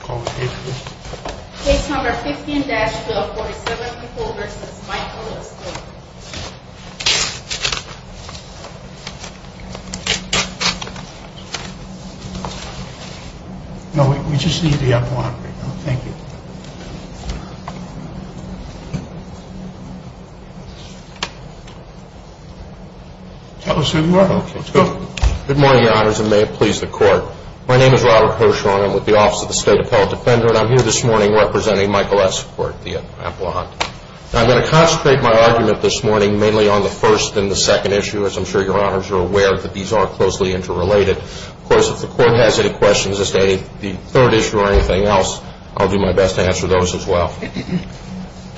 Call the case please. Case number 15-47 people v. Michael Escort. No, we just need the up-line right now. Thank you. Tell us who you are. Okay, let's go. Good morning, your honors, and may it please the court. My name is Robert Hirshhorn. I'm with the Office of the State Appellate Defender, and I'm here this morning representing Michael Escort, the appellant. Now, I'm going to concentrate my argument this morning mainly on the first and the second issue, as I'm sure your honors are aware that these are closely interrelated. Of course, if the court has any questions as to the third issue or anything else, I'll do my best to answer those as well.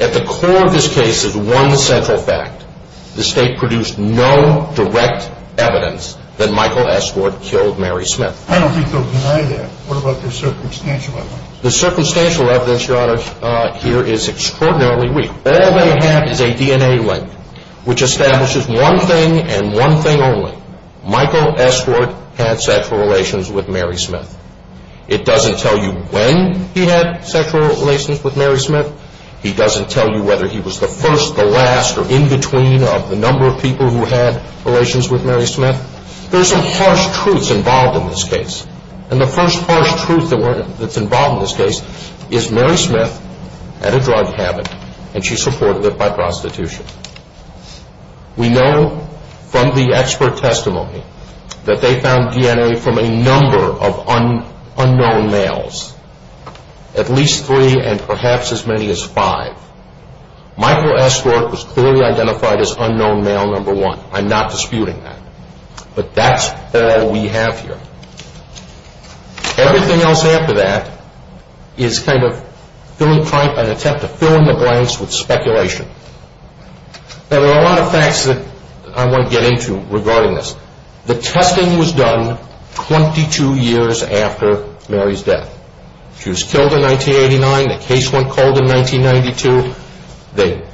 At the core of this case is one central fact. The state produced no direct evidence that Michael Escort killed Mary Smith. I don't think they'll deny that. What about their circumstantial evidence? The circumstantial evidence, your honors, here is extraordinarily weak. All they have is a DNA link, which establishes one thing and one thing only. Michael Escort had sexual relations with Mary Smith. It doesn't tell you when he had sexual relations with Mary Smith. He doesn't tell you whether he was the first, the last, or in between of the number of people who had relations with Mary Smith. There are some harsh truths involved in this case, and the first harsh truth that's involved in this case is Mary Smith had a drug habit, and she supported it by prostitution. We know from the expert testimony that they found DNA from a number of unknown males, at least three and perhaps as many as five. Michael Escort was clearly identified as unknown male number one. I'm not disputing that, but that's all we have here. Everything else after that is kind of an attempt to fill in the blanks with speculation. There are a lot of facts that I want to get into regarding this. The testing was done 22 years after Mary's death. She was killed in 1989. The case went cold in 1992. The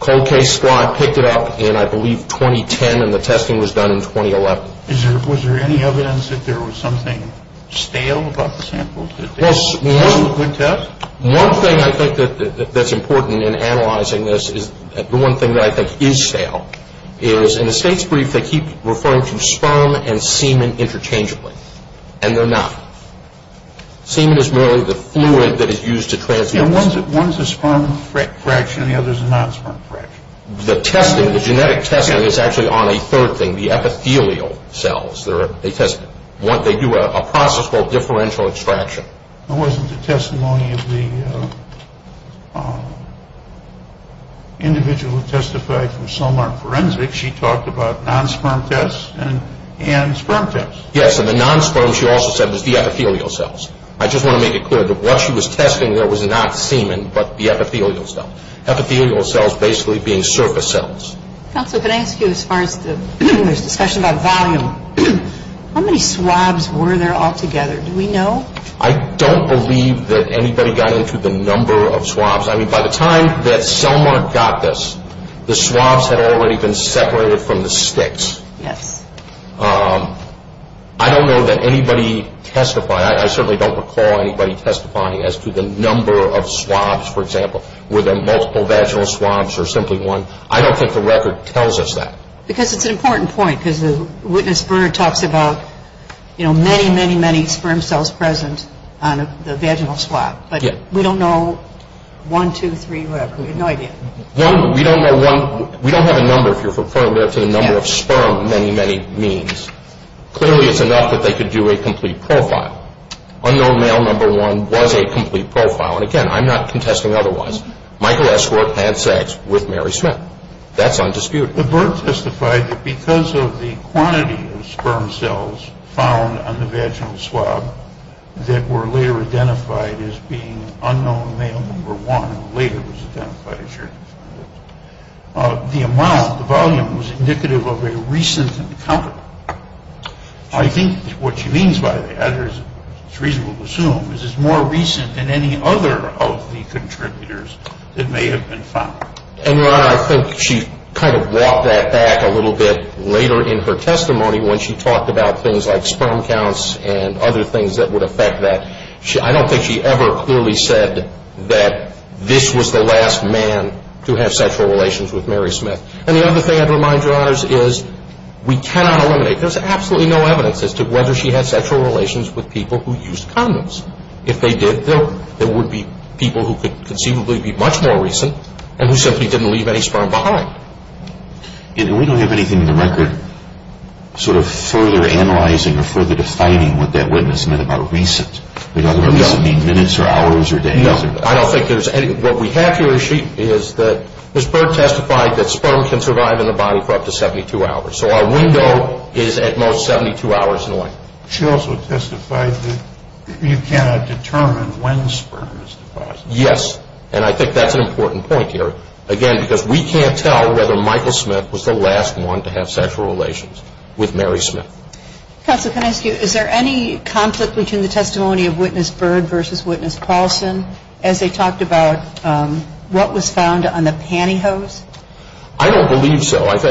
cold case squad picked it up in, I believe, 2010, and the testing was done in 2011. Was there any evidence that there was something stale about the samples? One thing I think that's important in analyzing this, the one thing that I think is stale, is in the state's brief they keep referring to sperm and semen interchangeably, and they're not. Semen is merely the fluid that is used to transmit. One's a sperm fraction and the other's a non-sperm fraction. The genetic testing is actually on a third thing, the epithelial cells. They do a process called differential extraction. It wasn't the testimony of the individual who testified from Solmark Forensics. She talked about non-sperm tests and sperm tests. Yes, and the non-sperm, she also said, was the epithelial cells. I just want to make it clear that what she was testing there was not semen but the epithelial cells. Epithelial cells basically being surface cells. Counsel, can I ask you, as far as the discussion about volume, how many swabs were there altogether? Do we know? I don't believe that anybody got into the number of swabs. I mean, by the time that Selmark got this, the swabs had already been separated from the sticks. Yes. I don't know that anybody testified. I certainly don't recall anybody testifying as to the number of swabs, for example, were there multiple vaginal swabs or simply one. I don't think the record tells us that. Because it's an important point, because the witness burner talks about, you know, many, many, many sperm cells present on the vaginal swab. But we don't know one, two, three, whatever. We have no idea. We don't know one. We don't have a number, if you're referring to the number of sperm, many, many means. Clearly, it's enough that they could do a complete profile. Unknown male number one was a complete profile. Now, and again, I'm not contesting otherwise. Michael S. Burt had sex with Mary Smith. That's undisputed. But Burt testified that because of the quantity of sperm cells found on the vaginal swab that were later identified as being unknown male number one, later was identified as your number one, the amount, the volume was indicative of a recent encounter. I think what she means by that, or it's reasonable to assume, is it's more recent than any other of the contributors that may have been found. And, Your Honor, I think she kind of brought that back a little bit later in her testimony when she talked about things like sperm counts and other things that would affect that. I don't think she ever clearly said that this was the last man to have sexual relations with Mary Smith. And the other thing I'd remind Your Honors is we cannot eliminate, there's absolutely no evidence as to whether she had sexual relations with people who used condoms. If they did, there would be people who could conceivably be much more recent and who simply didn't leave any sperm behind. And we don't have anything in the record sort of further analyzing or further defining what that witness meant about recent. It doesn't mean minutes or hours or days. No, I don't think there's anything. What we have here is that Ms. Burt testified that sperm can survive in the body for up to 72 hours. So our window is at most 72 hours and away. She also testified that you cannot determine when sperm is deposited. Yes, and I think that's an important point here. Again, because we can't tell whether Michael Smith was the last one to have sexual relations with Mary Smith. Counsel, can I ask you, is there any conflict between the testimony of Witness Burt versus Witness Paulson as they talked about what was found on the pantyhose? I don't believe so, and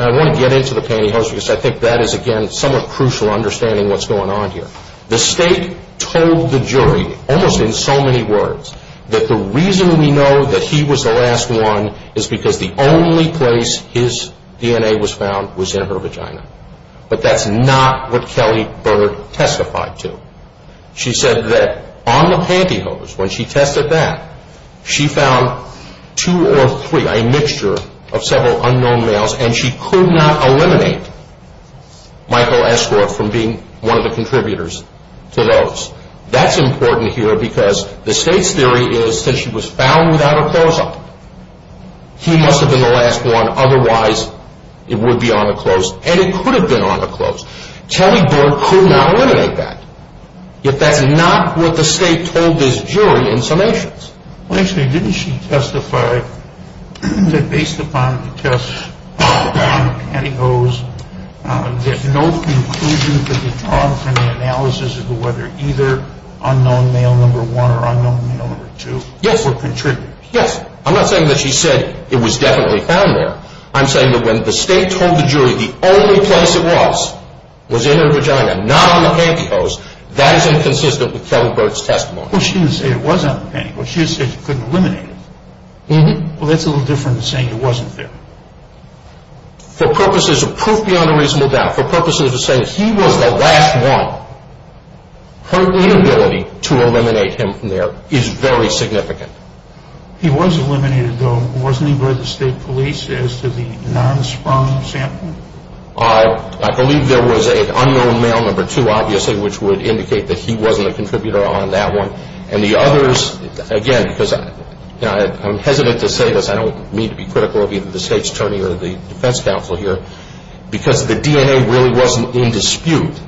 I want to get into the pantyhose because I think that is, again, somewhat crucial in understanding what's going on here. The State told the jury, almost in so many words, that the reason we know that he was the last one is because the only place his DNA was found was in her vagina. But that's not what Kelly Burt testified to. She said that on the pantyhose, when she tested that, she found two or three, a mixture of several unknown males, and she could not eliminate Michael Escort from being one of the contributors to those. That's important here because the State's theory is that she was found without a close-up. He must have been the last one, otherwise it would be on the close, and it could have been on the close. Kelly Burt could not eliminate that. Yet that's not what the State told this jury in summations. Well, actually, didn't she testify that based upon the test on the pantyhose, that no conclusion could be drawn from the analysis of whether either unknown male number one or unknown male number two were contributors? Yes. I'm not saying that she said it was definitely found there. I'm saying that when the State told the jury the only place it was, was in her vagina, not on the pantyhose, that is inconsistent with Kelly Burt's testimony. Well, she didn't say it was on the pantyhose. She just said she couldn't eliminate it. Well, that's a little different than saying it wasn't there. For purposes of proof beyond a reasonable doubt, for purposes of saying he was the last one, her inability to eliminate him from there is very significant. He was eliminated, though, wasn't he, by the State Police, as to the non-sprung sample? I believe there was an unknown male number two, obviously, which would indicate that he wasn't a contributor on that one. And the others, again, because I'm hesitant to say this, I don't mean to be critical of either the State's attorney or the defense counsel here, because the DNA really wasn't in dispute,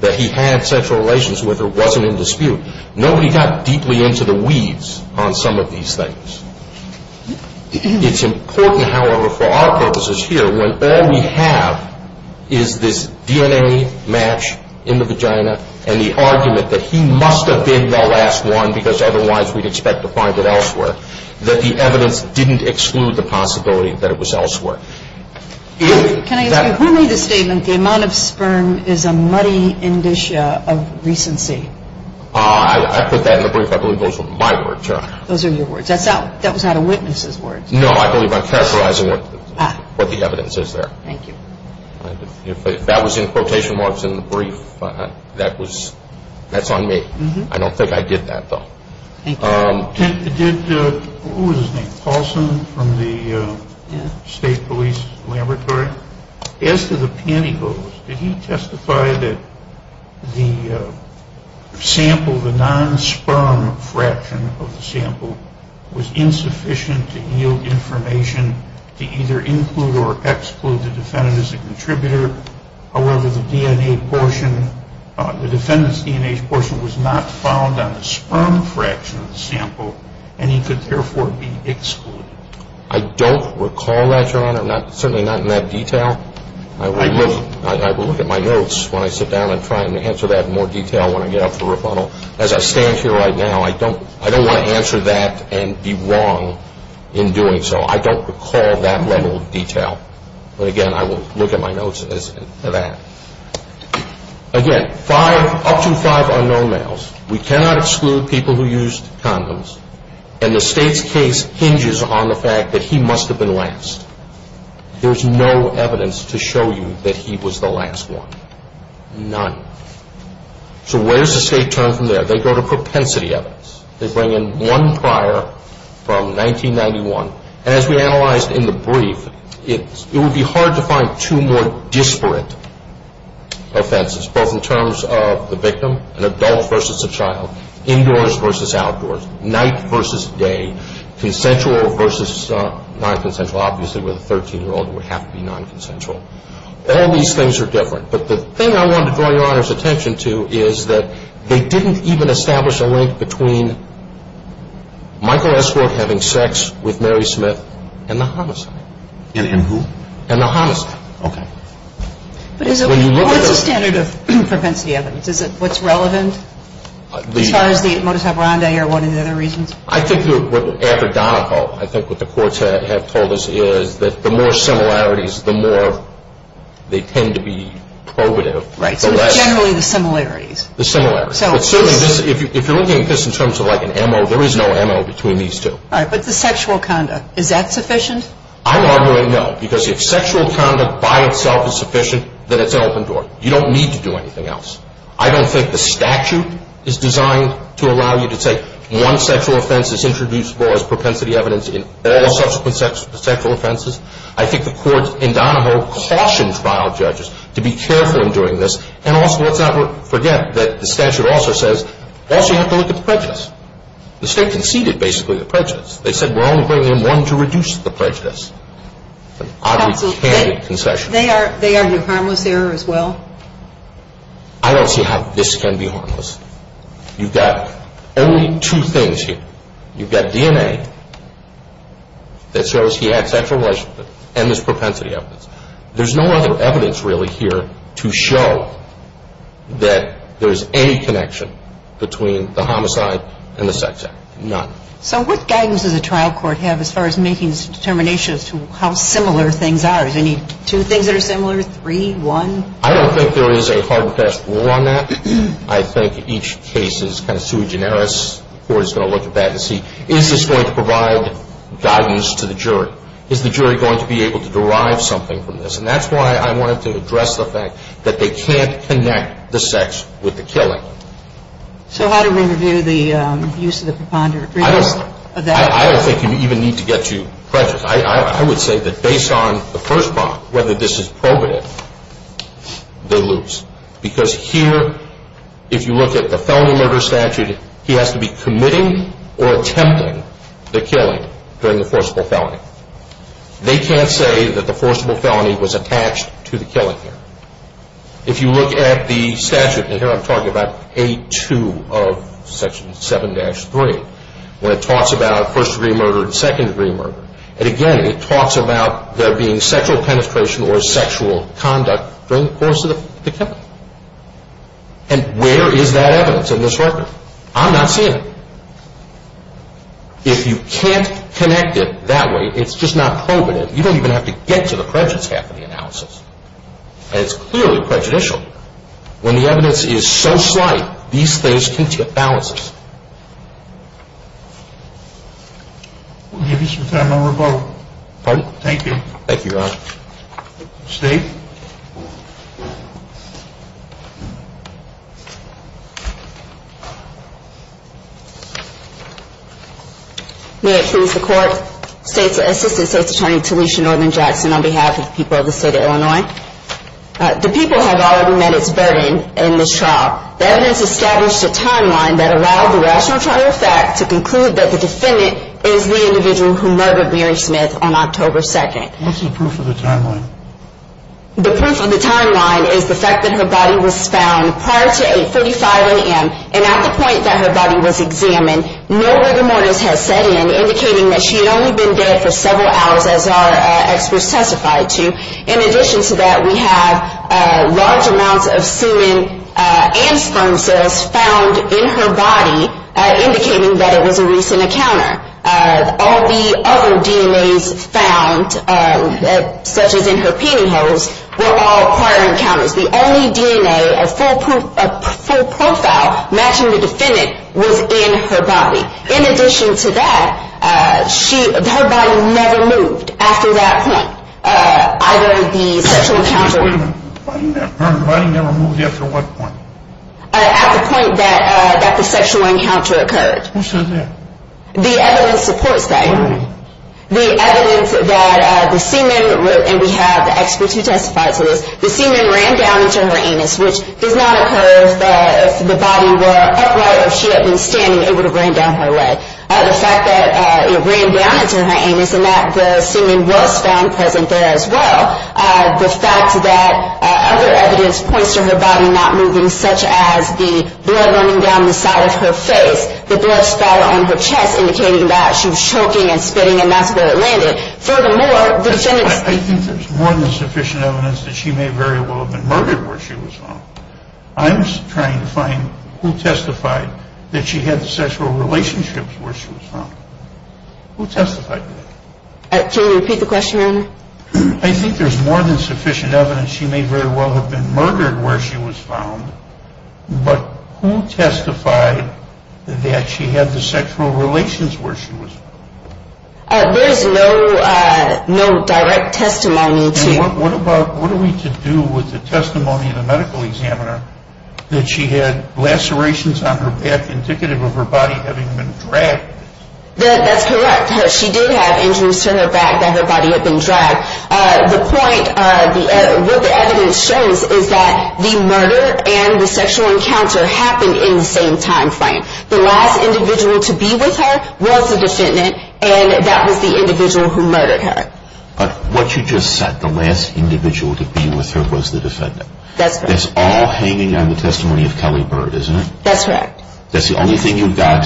that he had sexual relations with her wasn't in dispute. Nobody got deeply into the weeds on some of these things. It's important, however, for our purposes here, when all we have is this DNA match in the vagina and the argument that he must have been the last one because otherwise we'd expect to find it elsewhere, that the evidence didn't exclude the possibility that it was elsewhere. Can I ask you, who made the statement, the amount of sperm is a muddy indicia of recency? I put that in the brief. I believe those were my words, Your Honor. Those are your words. That was out of witnesses' words. No, I believe I'm characterizing what the evidence is there. Thank you. If that was in quotation marks in the brief, that's on me. I don't think I did that, though. Thank you. Who was his name, Paulson, from the State Police Laboratory? As to the pantyhose, did he testify that the sample, the non-sperm fraction of the sample, was insufficient to yield information to either include or exclude the defendant as a contributor, or whether the defendant's DNA portion was not found on the sperm fraction of the sample and he could therefore be excluded? I don't recall that, Your Honor. Certainly not in that detail. I will look at my notes when I sit down and try to answer that in more detail when I get up for rebuttal. As I stand here right now, I don't want to answer that and be wrong in doing so. I don't recall that level of detail. But again, I will look at my notes as that. Again, up to five unknown males. We cannot exclude people who used condoms. And the State's case hinges on the fact that he must have been last. There's no evidence to show you that he was the last one. None. So where does the State turn from there? They go to propensity evidence. They bring in one prior from 1991. And as we analyzed in the brief, it would be hard to find two more disparate offenses, both in terms of the victim, an adult versus a child, indoors versus outdoors, night versus day, consensual versus non-consensual. Obviously, with a 13-year-old, it would have to be non-consensual. All these things are different. But the thing I wanted to draw Your Honor's attention to is that they didn't even establish a link between Michael S. Wood having sex with Mary Smith and the homicide. And who? And the homicide. Okay. But what's the standard of propensity evidence? Is it what's relevant as far as the Motus Abrande or one of the other reasons? I think what the courts have told us is that the more similarities, the more they tend to be probative. Right. So generally the similarities. The similarities. But certainly, if you're looking at this in terms of like an MO, there is no MO between these two. All right. But the sexual conduct, is that sufficient? I'm arguing no. Because if sexual conduct by itself is sufficient, then it's an open door. You don't need to do anything else. I don't think the statute is designed to allow you to say one sexual offense is introduced as far as propensity evidence in all subsequent sexual offenses. I think the courts in Donahoe cautioned trial judges to be careful in doing this. And also, let's not forget that the statute also says, also you have to look at the prejudice. The state conceded basically the prejudice. They said we're only bringing in one to reduce the prejudice. An oddly candid concession. They argue harmless error as well? I don't see how this can be harmless. You've got only two things here. You've got DNA that shows he had sexual relationship and there's propensity evidence. There's no other evidence really here to show that there's any connection between the homicide and the sex act. None. So what guidance does a trial court have as far as making determinations to how similar things are? Is there two things that are similar? Three? One? I don't think there is a hard and fast rule on that. I think each case is kind of sui generis. The court is going to look at that and see, is this going to provide guidance to the jury? Is the jury going to be able to derive something from this? And that's why I wanted to address the fact that they can't connect the sex with the killing. So how do we review the use of the preponderance of that? I don't think you even need to get too prejudiced. I would say that based on the first part, whether this is probative, they lose. Because here, if you look at the felony murder statute, he has to be committing or attempting the killing during the forcible felony. They can't say that the forcible felony was attached to the killing here. If you look at the statute, and here I'm talking about 8.2 of Section 7-3, where it talks about first-degree murder and second-degree murder, and again it talks about there being sexual penetration or sexual conduct during the course of the killing. And where is that evidence in this record? I'm not seeing it. If you can't connect it that way, it's just not probative. You don't even have to get to the prejudice half of the analysis. And it's clearly prejudicial. When the evidence is so slight, these things can tip balances. We'll give you some time, Member Bogle. Pardon? Thank you. Thank you, Your Honor. State. May it please the Court. State's Assistant State's Attorney Talisha Norman Jackson on behalf of the people of the state of Illinois. The people have already met its burden in this trial. The evidence established a timeline that allowed the rational trial fact to conclude that the defendant is the individual who murdered Mary Smith on October 2nd. What's the proof of the timeline? The proof of the timeline is the fact that her body was found prior to 8.45 a.m. and at the point that her body was examined, no rigor mortis has set in indicating that she had only been dead for several hours, as our experts testified to. In addition to that, we have large amounts of semen and sperm cells found in her body, indicating that it was a recent encounter. All the other DNAs found, such as in her peening holes, were all prior encounters. The only DNA of full profile matching the defendant was in her body. In addition to that, her body never moved after that point, either the sexual encounter. Her body never moved after what point? At the point that the sexual encounter occurred. Who says that? The evidence supports that. What evidence? The evidence that the semen, and we have experts who testified to this, the semen ran down into her anus, which does not occur that if the body were upright or she had been standing, it would have ran down her leg. The fact that it ran down into her anus and that the semen was found present there as well, the fact that other evidence points to her body not moving, such as the blood running down the side of her face, the blood spatter on her chest indicating that she was choking and spitting and that's where it landed. I think there's more than sufficient evidence that she may very well have been murdered where she was found. I'm trying to find who testified that she had sexual relationships where she was found. Who testified to that? Can you repeat the question, Your Honor? I think there's more than sufficient evidence she may very well have been murdered where she was found, but who testified that she had the sexual relations where she was found? There's no direct testimony to that. What are we to do with the testimony of the medical examiner that she had lacerations on her back indicative of her body having been dragged? That's correct. She did have injuries to her back that her body had been dragged. The point, what the evidence shows is that the murder and the sexual encounter happened in the same time frame. The last individual to be with her was the defendant and that was the individual who murdered her. But what you just said, the last individual to be with her was the defendant. That's correct. That's all hanging on the testimony of Kelly Bird, isn't it? That's correct. That's the only thing you've got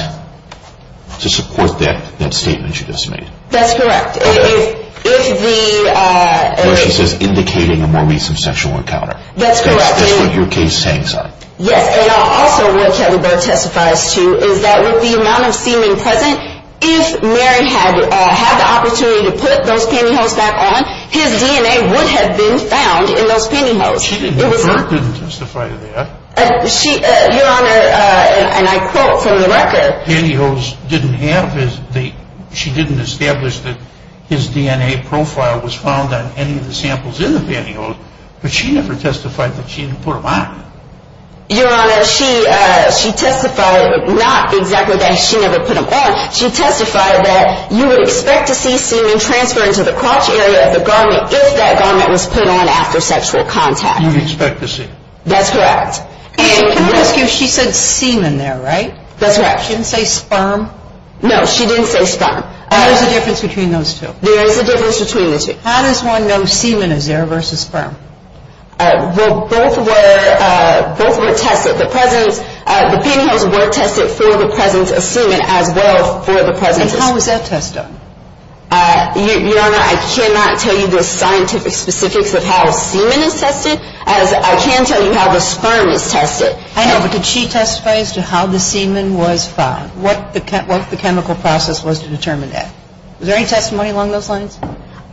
to support that statement she just made. That's correct. If the... Where she says indicating a more recent sexual encounter. That's correct. That's what your case hangs on. Yes, and also what Kelly Bird testifies to is that with the amount of semen present, if Mary had the opportunity to put those pantyhose back on, his DNA would have been found in those pantyhose. She didn't infer, didn't testify to that. Your Honor, and I quote from the record. Pantyhose didn't have, she didn't establish that his DNA profile was found on any of the samples in the pantyhose, but she never testified that she had put them on. Your Honor, she testified not exactly that she never put them on. She testified that you would expect to see semen transfer into the crotch area of the garment if that garment was put on after sexual contact. You'd expect to see. That's correct. And can I ask you, she said semen there, right? That's right. She didn't say sperm? No, she didn't say sperm. There's a difference between those two. There is a difference between the two. How does one know semen is there versus sperm? Well, both were tested. The pantyhose were tested for the presence of semen as well for the presence of sperm. And how was that test done? Your Honor, I cannot tell you the scientific specifics of how semen is tested as I can tell you how the sperm is tested. I know, but did she testify as to how the semen was found? What the chemical process was to determine that? Was there any testimony along those lines?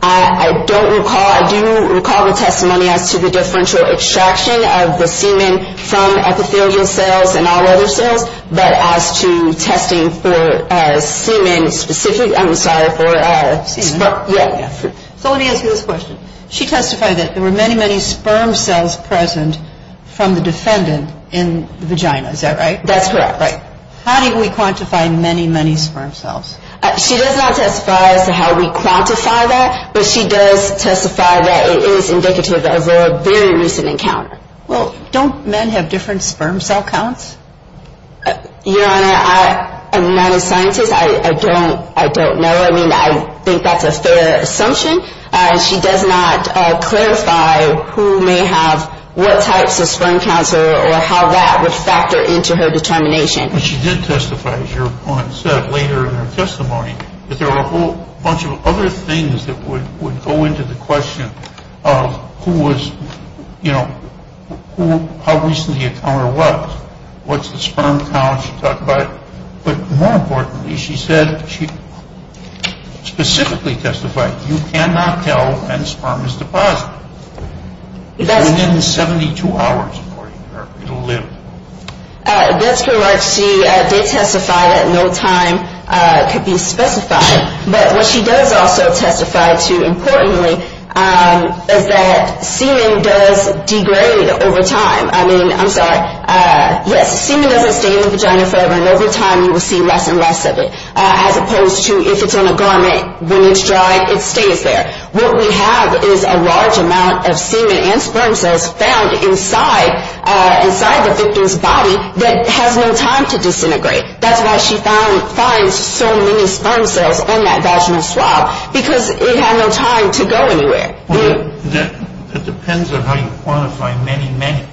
I don't recall. I do recall the testimony as to the differential extraction of the semen from epithelial cells and all other cells, but as to testing for semen specific, I'm sorry, for sperm. So let me ask you this question. She testified that there were many, many sperm cells present from the defendant in the vagina. Is that right? That's correct. How do we quantify many, many sperm cells? She does not testify as to how we quantify that, but she does testify that it is indicative of a very recent encounter. Well, don't men have different sperm cell counts? Your Honor, I'm not a scientist. I don't know. I mean, I think that's a fair assumption. She does not clarify who may have what types of sperm counts or how that would factor into her determination. But she did testify, as Your Honor said later in her testimony, that there were a whole bunch of other things that would go into the question of who was, you know, how recent the encounter was, what's the sperm count she talked about. But more importantly, she said, she specifically testified, you cannot tell when sperm is deposited. It's within 72 hours, according to her. It'll live. That's correct. She did testify that no time could be specified. But what she does also testify to, importantly, is that semen does degrade over time. I mean, I'm sorry, yes, semen doesn't stay in the vagina forever, and over time you will see less and less of it, as opposed to if it's on a garment, when it's dry, it stays there. What we have is a large amount of semen and sperm cells found inside the victim's body that has no time to disintegrate. That's why she finds so many sperm cells in that vaginal swab, because it had no time to go anywhere. It depends on how you quantify many, many.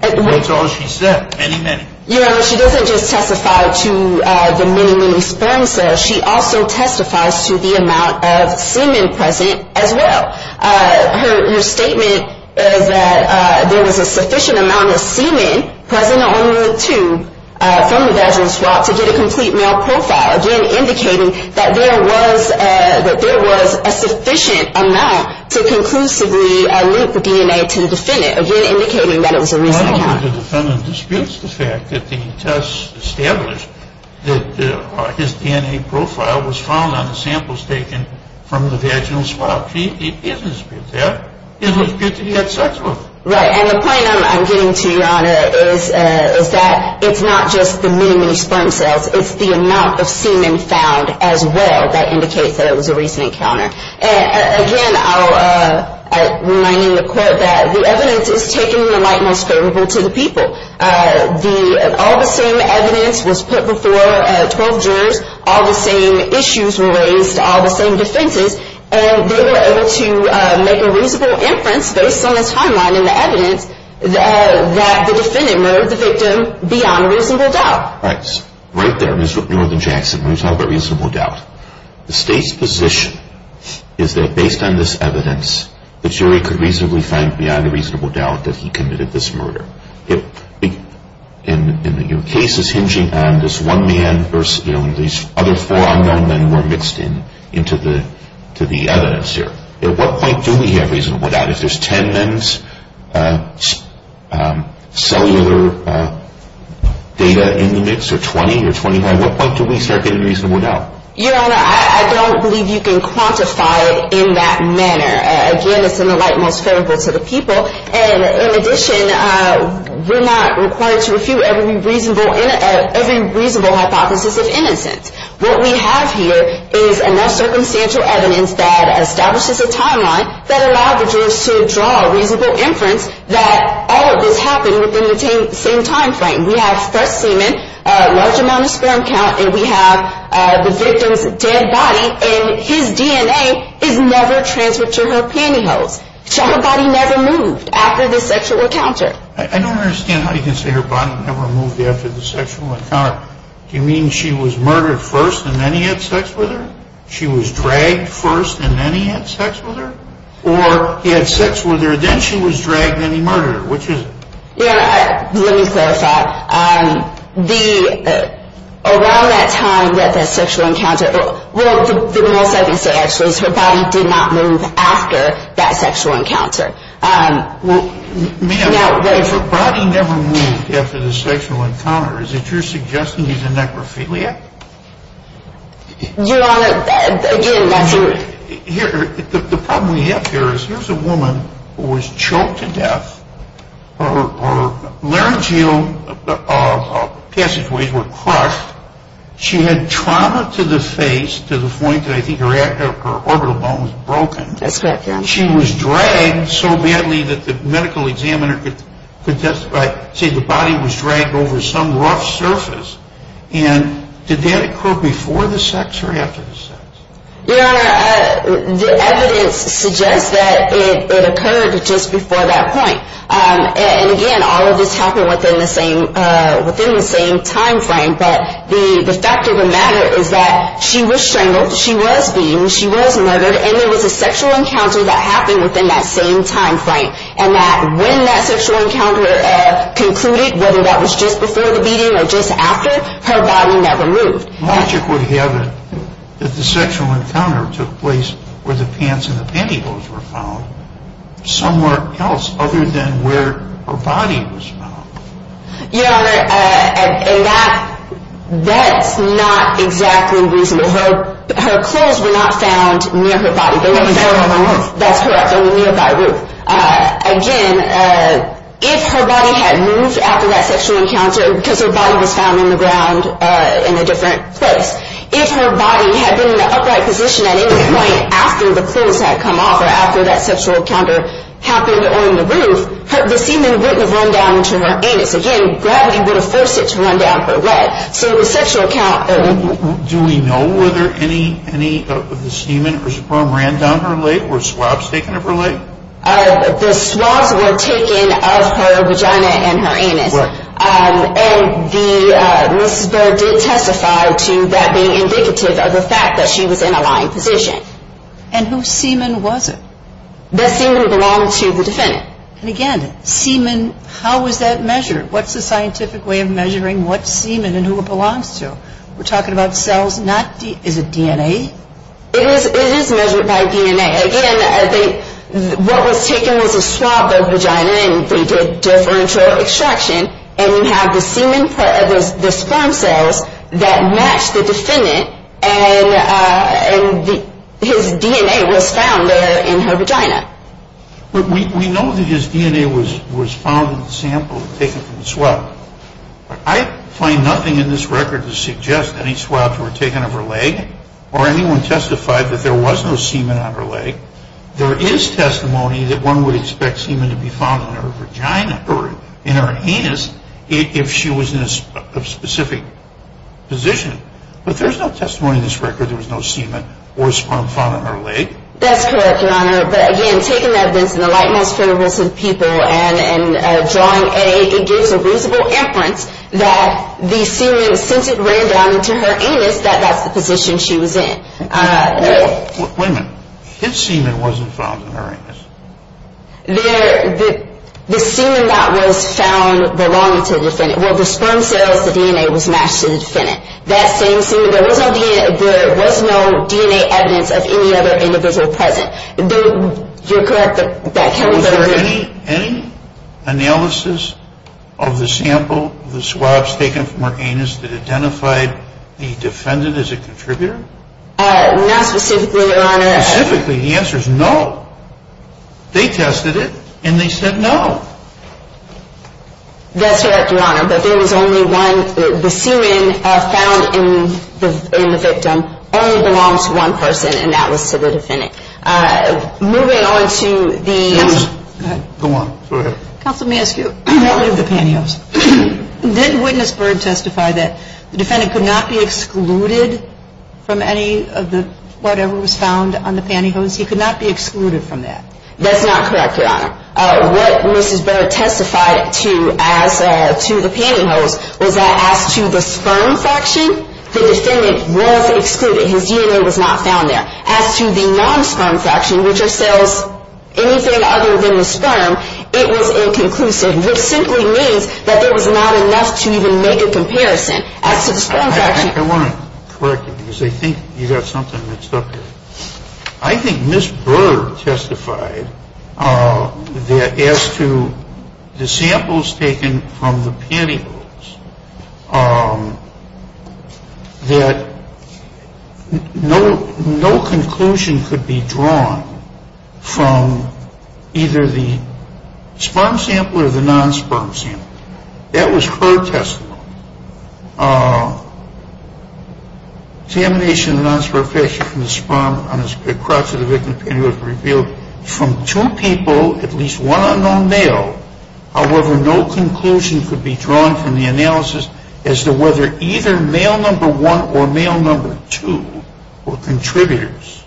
That's all she said, many, many. Your Honor, she doesn't just testify to the many, many sperm cells. She also testifies to the amount of semen present as well. Her statement is that there was a sufficient amount of semen present on the tube from the vaginal swab to get a complete male profile, again indicating that there was a sufficient amount to conclusively link the DNA to the defendant, again indicating that it was a recent count. The defendant disputes the fact that the test established that his DNA profile was found on the samples taken from the vaginal swab. She doesn't dispute that. She doesn't dispute that he had sex with her. Right, and the point I'm getting to, Your Honor, is that it's not just the many, many sperm cells. It's the amount of semen found as well that indicates that it was a recent encounter. Again, reminding the Court that the evidence is taken in the light most favorable to the people. All the same evidence was put before 12 jurors. All the same issues were raised. All the same defenses, and they were able to make a reasonable inference based on this timeline and the evidence that the defendant murdered the victim beyond reasonable doubt. Right there, Mr. Northern Jackson, when you talk about reasonable doubt, the State's position is that based on this evidence, the jury could reasonably find beyond a reasonable doubt that he committed this murder. And your case is hinging on this one man versus these other four unknown men who are mixed into the evidence here. At what point do we have reasonable doubt? If there's 10 men's cellular data in the mix or 20 or 25, at what point do we start getting reasonable doubt? Your Honor, I don't believe you can quantify it in that manner. Again, it's in the light most favorable to the people. And in addition, we're not required to refute every reasonable hypothesis of innocence. What we have here is enough circumstantial evidence that establishes a timeline that allows the jurors to draw a reasonable inference that all of this happened within the same timeframe. We have fresh semen, a large amount of sperm count, and we have the victim's dead body. And his DNA is never transferred to her pantyhose. So her body never moved after the sexual encounter. I don't understand how you can say her body never moved after the sexual encounter. Do you mean she was murdered first and then he had sex with her? She was dragged first and then he had sex with her? Or he had sex with her, then she was dragged, then he murdered her? Which is it? Let me clarify. Around that time that the sexual encounter, well, the most obvious answer is her body did not move after that sexual encounter. Ma'am, if her body never moved after the sexual encounter, is it your suggestion he's a necrophiliac? Your Honor, again, that's a... The problem we have here is here's a woman who was choked to death. Her laryngeal passageways were crushed. She had trauma to the face to the point that I think her orbital bone was broken. That's correct, Your Honor. She was dragged so badly that the medical examiner could say the body was dragged over some rough surface. Your Honor, the evidence suggests that it occurred just before that point. And again, all of this happened within the same time frame. But the fact of the matter is that she was strangled, she was beaten, she was murdered, and there was a sexual encounter that happened within that same time frame. And that when that sexual encounter concluded, whether that was just before the beating or just after, her body never moved. Logic would have it that the sexual encounter took place where the pants and the pantyhose were found, somewhere else other than where her body was found. Your Honor, that's not exactly reasonable. Her clothes were not found near her body. They were found on the roof. That's correct, on the nearby roof. Again, if her body had moved after that sexual encounter because her body was found on the ground in a different place, if her body had been in an upright position at any point after the clothes had come off or after that sexual encounter happened on the roof, the semen wouldn't have run down to her anus. Again, gravity would have forced it to run down her leg. Do we know whether any of the semen or sebum ran down her leg? Were swabs taken of her leg? The swabs were taken of her vagina and her anus. And Mrs. Berg did testify to that being indicative of the fact that she was in a lying position. And whose semen was it? That semen belonged to the defendant. And again, semen, how was that measured? What's the scientific way of measuring what semen and who it belongs to? We're talking about cells, not DNA. Is it DNA? It is measured by DNA. Again, I think what was taken was a swab of the vagina and we did differential extraction and we have the semen part of the sperm cells that matched the defendant and his DNA was found in her vagina. We know that his DNA was found in the sample taken from the swab. I find nothing in this record to suggest any swabs were taken of her leg or anyone testified that there was no semen on her leg. There is testimony that one would expect semen to be found in her vagina or in her anus if she was in a specific position. But there's no testimony in this record that there was no semen or sperm found on her leg. That's correct, Your Honor. But again, taking evidence in the light most credible to the people and drawing it gives a reasonable inference that the semen, since it ran down into her anus, that that's the position she was in. Wait a minute. His semen wasn't found in her anus. The semen that was found belonged to the defendant. Well, the sperm cells, the DNA was matched to the defendant. There was no DNA evidence of any other individual present. You're correct. Was there any analysis of the sample of the swabs taken from her anus that identified the defendant as a contributor? Not specifically, Your Honor. Specifically, the answer is no. They tested it, and they said no. That's correct, Your Honor. But there was only one. The semen found in the victim only belonged to one person, and that was to the defendant. Moving on to the ---- Counsel, go ahead. Go on. Go ahead. Counsel, let me ask you about the pantyhose. Did Witness Bird testify that the defendant could not be excluded from any of the whatever was found on the pantyhose? He could not be excluded from that. That's not correct, Your Honor. What Mrs. Bird testified to the pantyhose was that as to the sperm fraction, the defendant was excluded. His DNA was not found there. As to the non-sperm fraction, which are cells, anything other than the sperm, it was inconclusive, which simply means that there was not enough to even make a comparison. As to the sperm fraction ---- I want to correct you because I think you've got something mixed up here. I think Mrs. Bird testified that as to the samples taken from the pantyhose, that no conclusion could be drawn from either the sperm sample or the non-sperm sample. That was her testimony. Examination of the non-sperm fraction from the sperm across the victim's pantyhose revealed from two people at least one unknown male, however, no conclusion could be drawn from the analysis as to whether either male number one or male number two were contributors.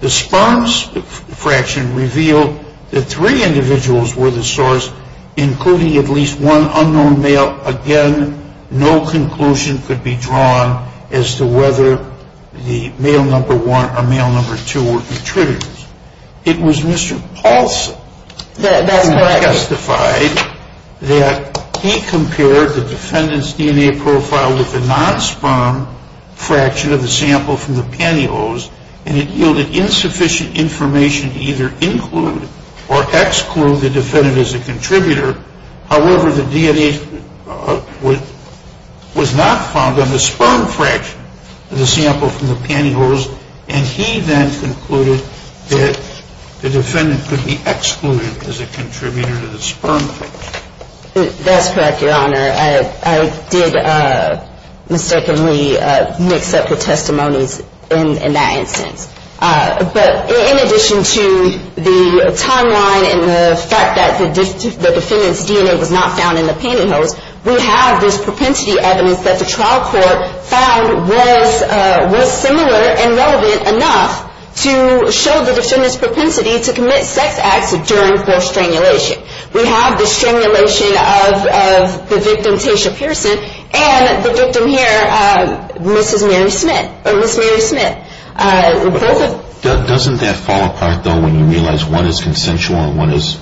The sperm fraction revealed that three individuals were the source, including at least one unknown male. Again, no conclusion could be drawn as to whether the male number one or male number two were contributors. It was Mr. Paulson that testified that he compared the defendant's DNA profile with the non-sperm fraction of the sample from the pantyhose, and it yielded insufficient information to either include or exclude the defendant as a contributor. However, the DNA was not found on the sperm fraction of the sample from the pantyhose, and he then concluded that the defendant could be excluded as a contributor to the sperm fraction. That's correct, Your Honor. I did mistakenly mix up the testimonies in that instance. But in addition to the timeline and the fact that the defendant's DNA was not found in the pantyhose, we have this propensity evidence that the trial court found was similar and relevant enough to show the defendant's propensity to commit sex acts during post-sternulation. We have the stimulation of the victim, Tayshia Pearson, and the victim here, Mrs. Mary Smith. Doesn't that fall apart, though, when you realize one is consensual and one is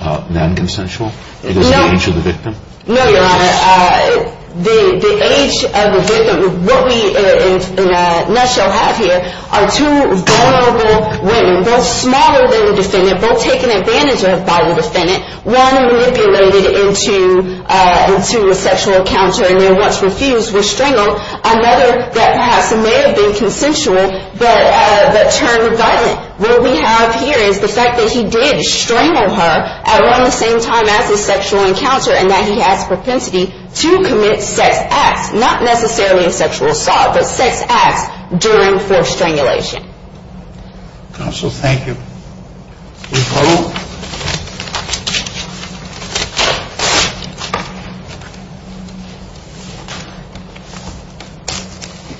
non-consensual? It is the age of the victim? No, Your Honor. The age of the victim, what we in a nutshell have here, are two vulnerable women, both smaller than the defendant, both taken advantage of by the defendant, one manipulated into a sexual encounter and then once refused was strangled, another that perhaps may have been consensual but turned violent. What we have here is the fact that he did strangle her around the same time as the sexual encounter and that he has propensity to commit sex acts, not necessarily a sexual assault, but sex acts during post-sternulation. Counsel, thank you. Please hold.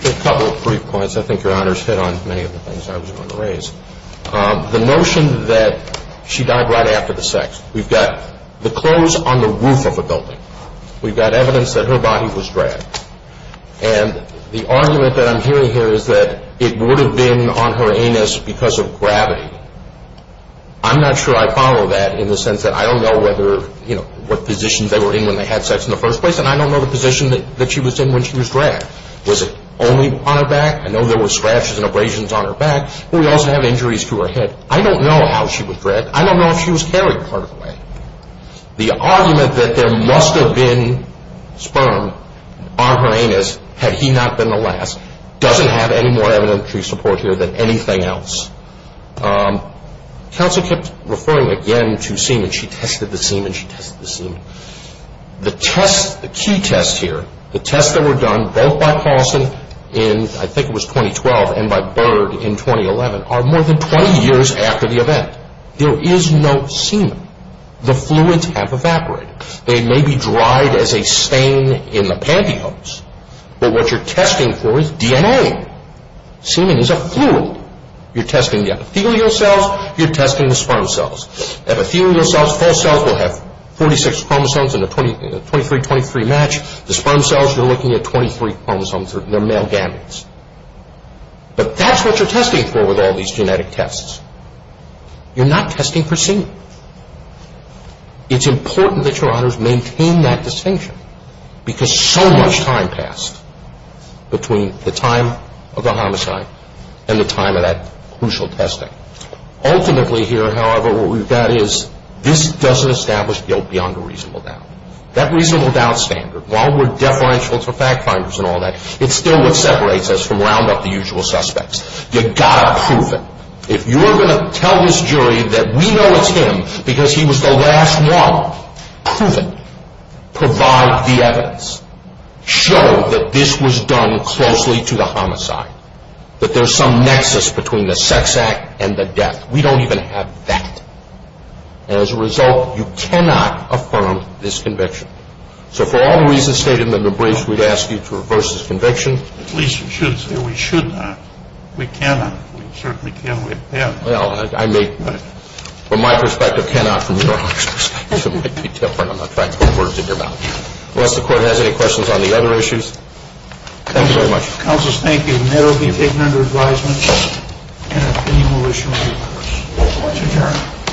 A couple of brief points. I think Your Honor's hit on many of the things I was going to raise. The notion that she died right after the sex. We've got the clothes on the roof of a building. We've got evidence that her body was dragged. And the argument that I'm hearing here is that it would have been on her anus because of gravity. I'm not sure I follow that in the sense that I don't know whether, you know, what positions they were in when they had sex in the first place, and I don't know the position that she was in when she was dragged. Was it only on her back? I know there were scratches and abrasions on her back. We also have injuries to her head. I don't know how she was dragged. I don't know if she was carried part of the way. The argument that there must have been sperm on her anus had he not been the last doesn't have any more evidentiary support here than anything else. Counsel kept referring again to semen. She tested the semen. She tested the semen. The test, the key test here, the tests that were done both by Paulson in, I think it was 2012, and by Byrd in 2011 are more than 20 years after the event. There is no semen. The fluids have evaporated. They may be dried as a stain in the pantyhose, but what you're testing for is DNA. Semen is a fluid. You're testing the epithelial cells. You're testing the sperm cells. Epithelial cells, false cells, will have 46 chromosomes in a 23-23 match. The sperm cells, you're looking at 23 chromosomes. They're male gametes. But that's what you're testing for with all these genetic tests. You're not testing for semen. It's important that Your Honors maintain that distinction because so much time passed between the time of the homicide and the time of that crucial testing. Ultimately here, however, what we've got is this doesn't establish guilt beyond a reasonable doubt. That reasonable doubt standard, while we're deferential to fact finders and all that, it's still what separates us from round-up the usual suspects. You've got to prove it. If you're going to tell this jury that we know it's him because he was the last one proven, provide the evidence. Show that this was done closely to the homicide, that there's some nexus between the sex act and the death. We don't even have that. As a result, you cannot affirm this conviction. So for all the reasons stated in the briefs, we'd ask you to reverse this conviction. At least we should say we should not. We cannot. We certainly can't. We have to. Well, I may, from my perspective, cannot. From Your Honors' perspective, it might be different. I'm not trying to put words in your mouth. Unless the Court has any questions on the other issues, thank you very much. Counselors, thank you. And that will be taken under advisement. And if any more issues, we'll reverse. Court is adjourned.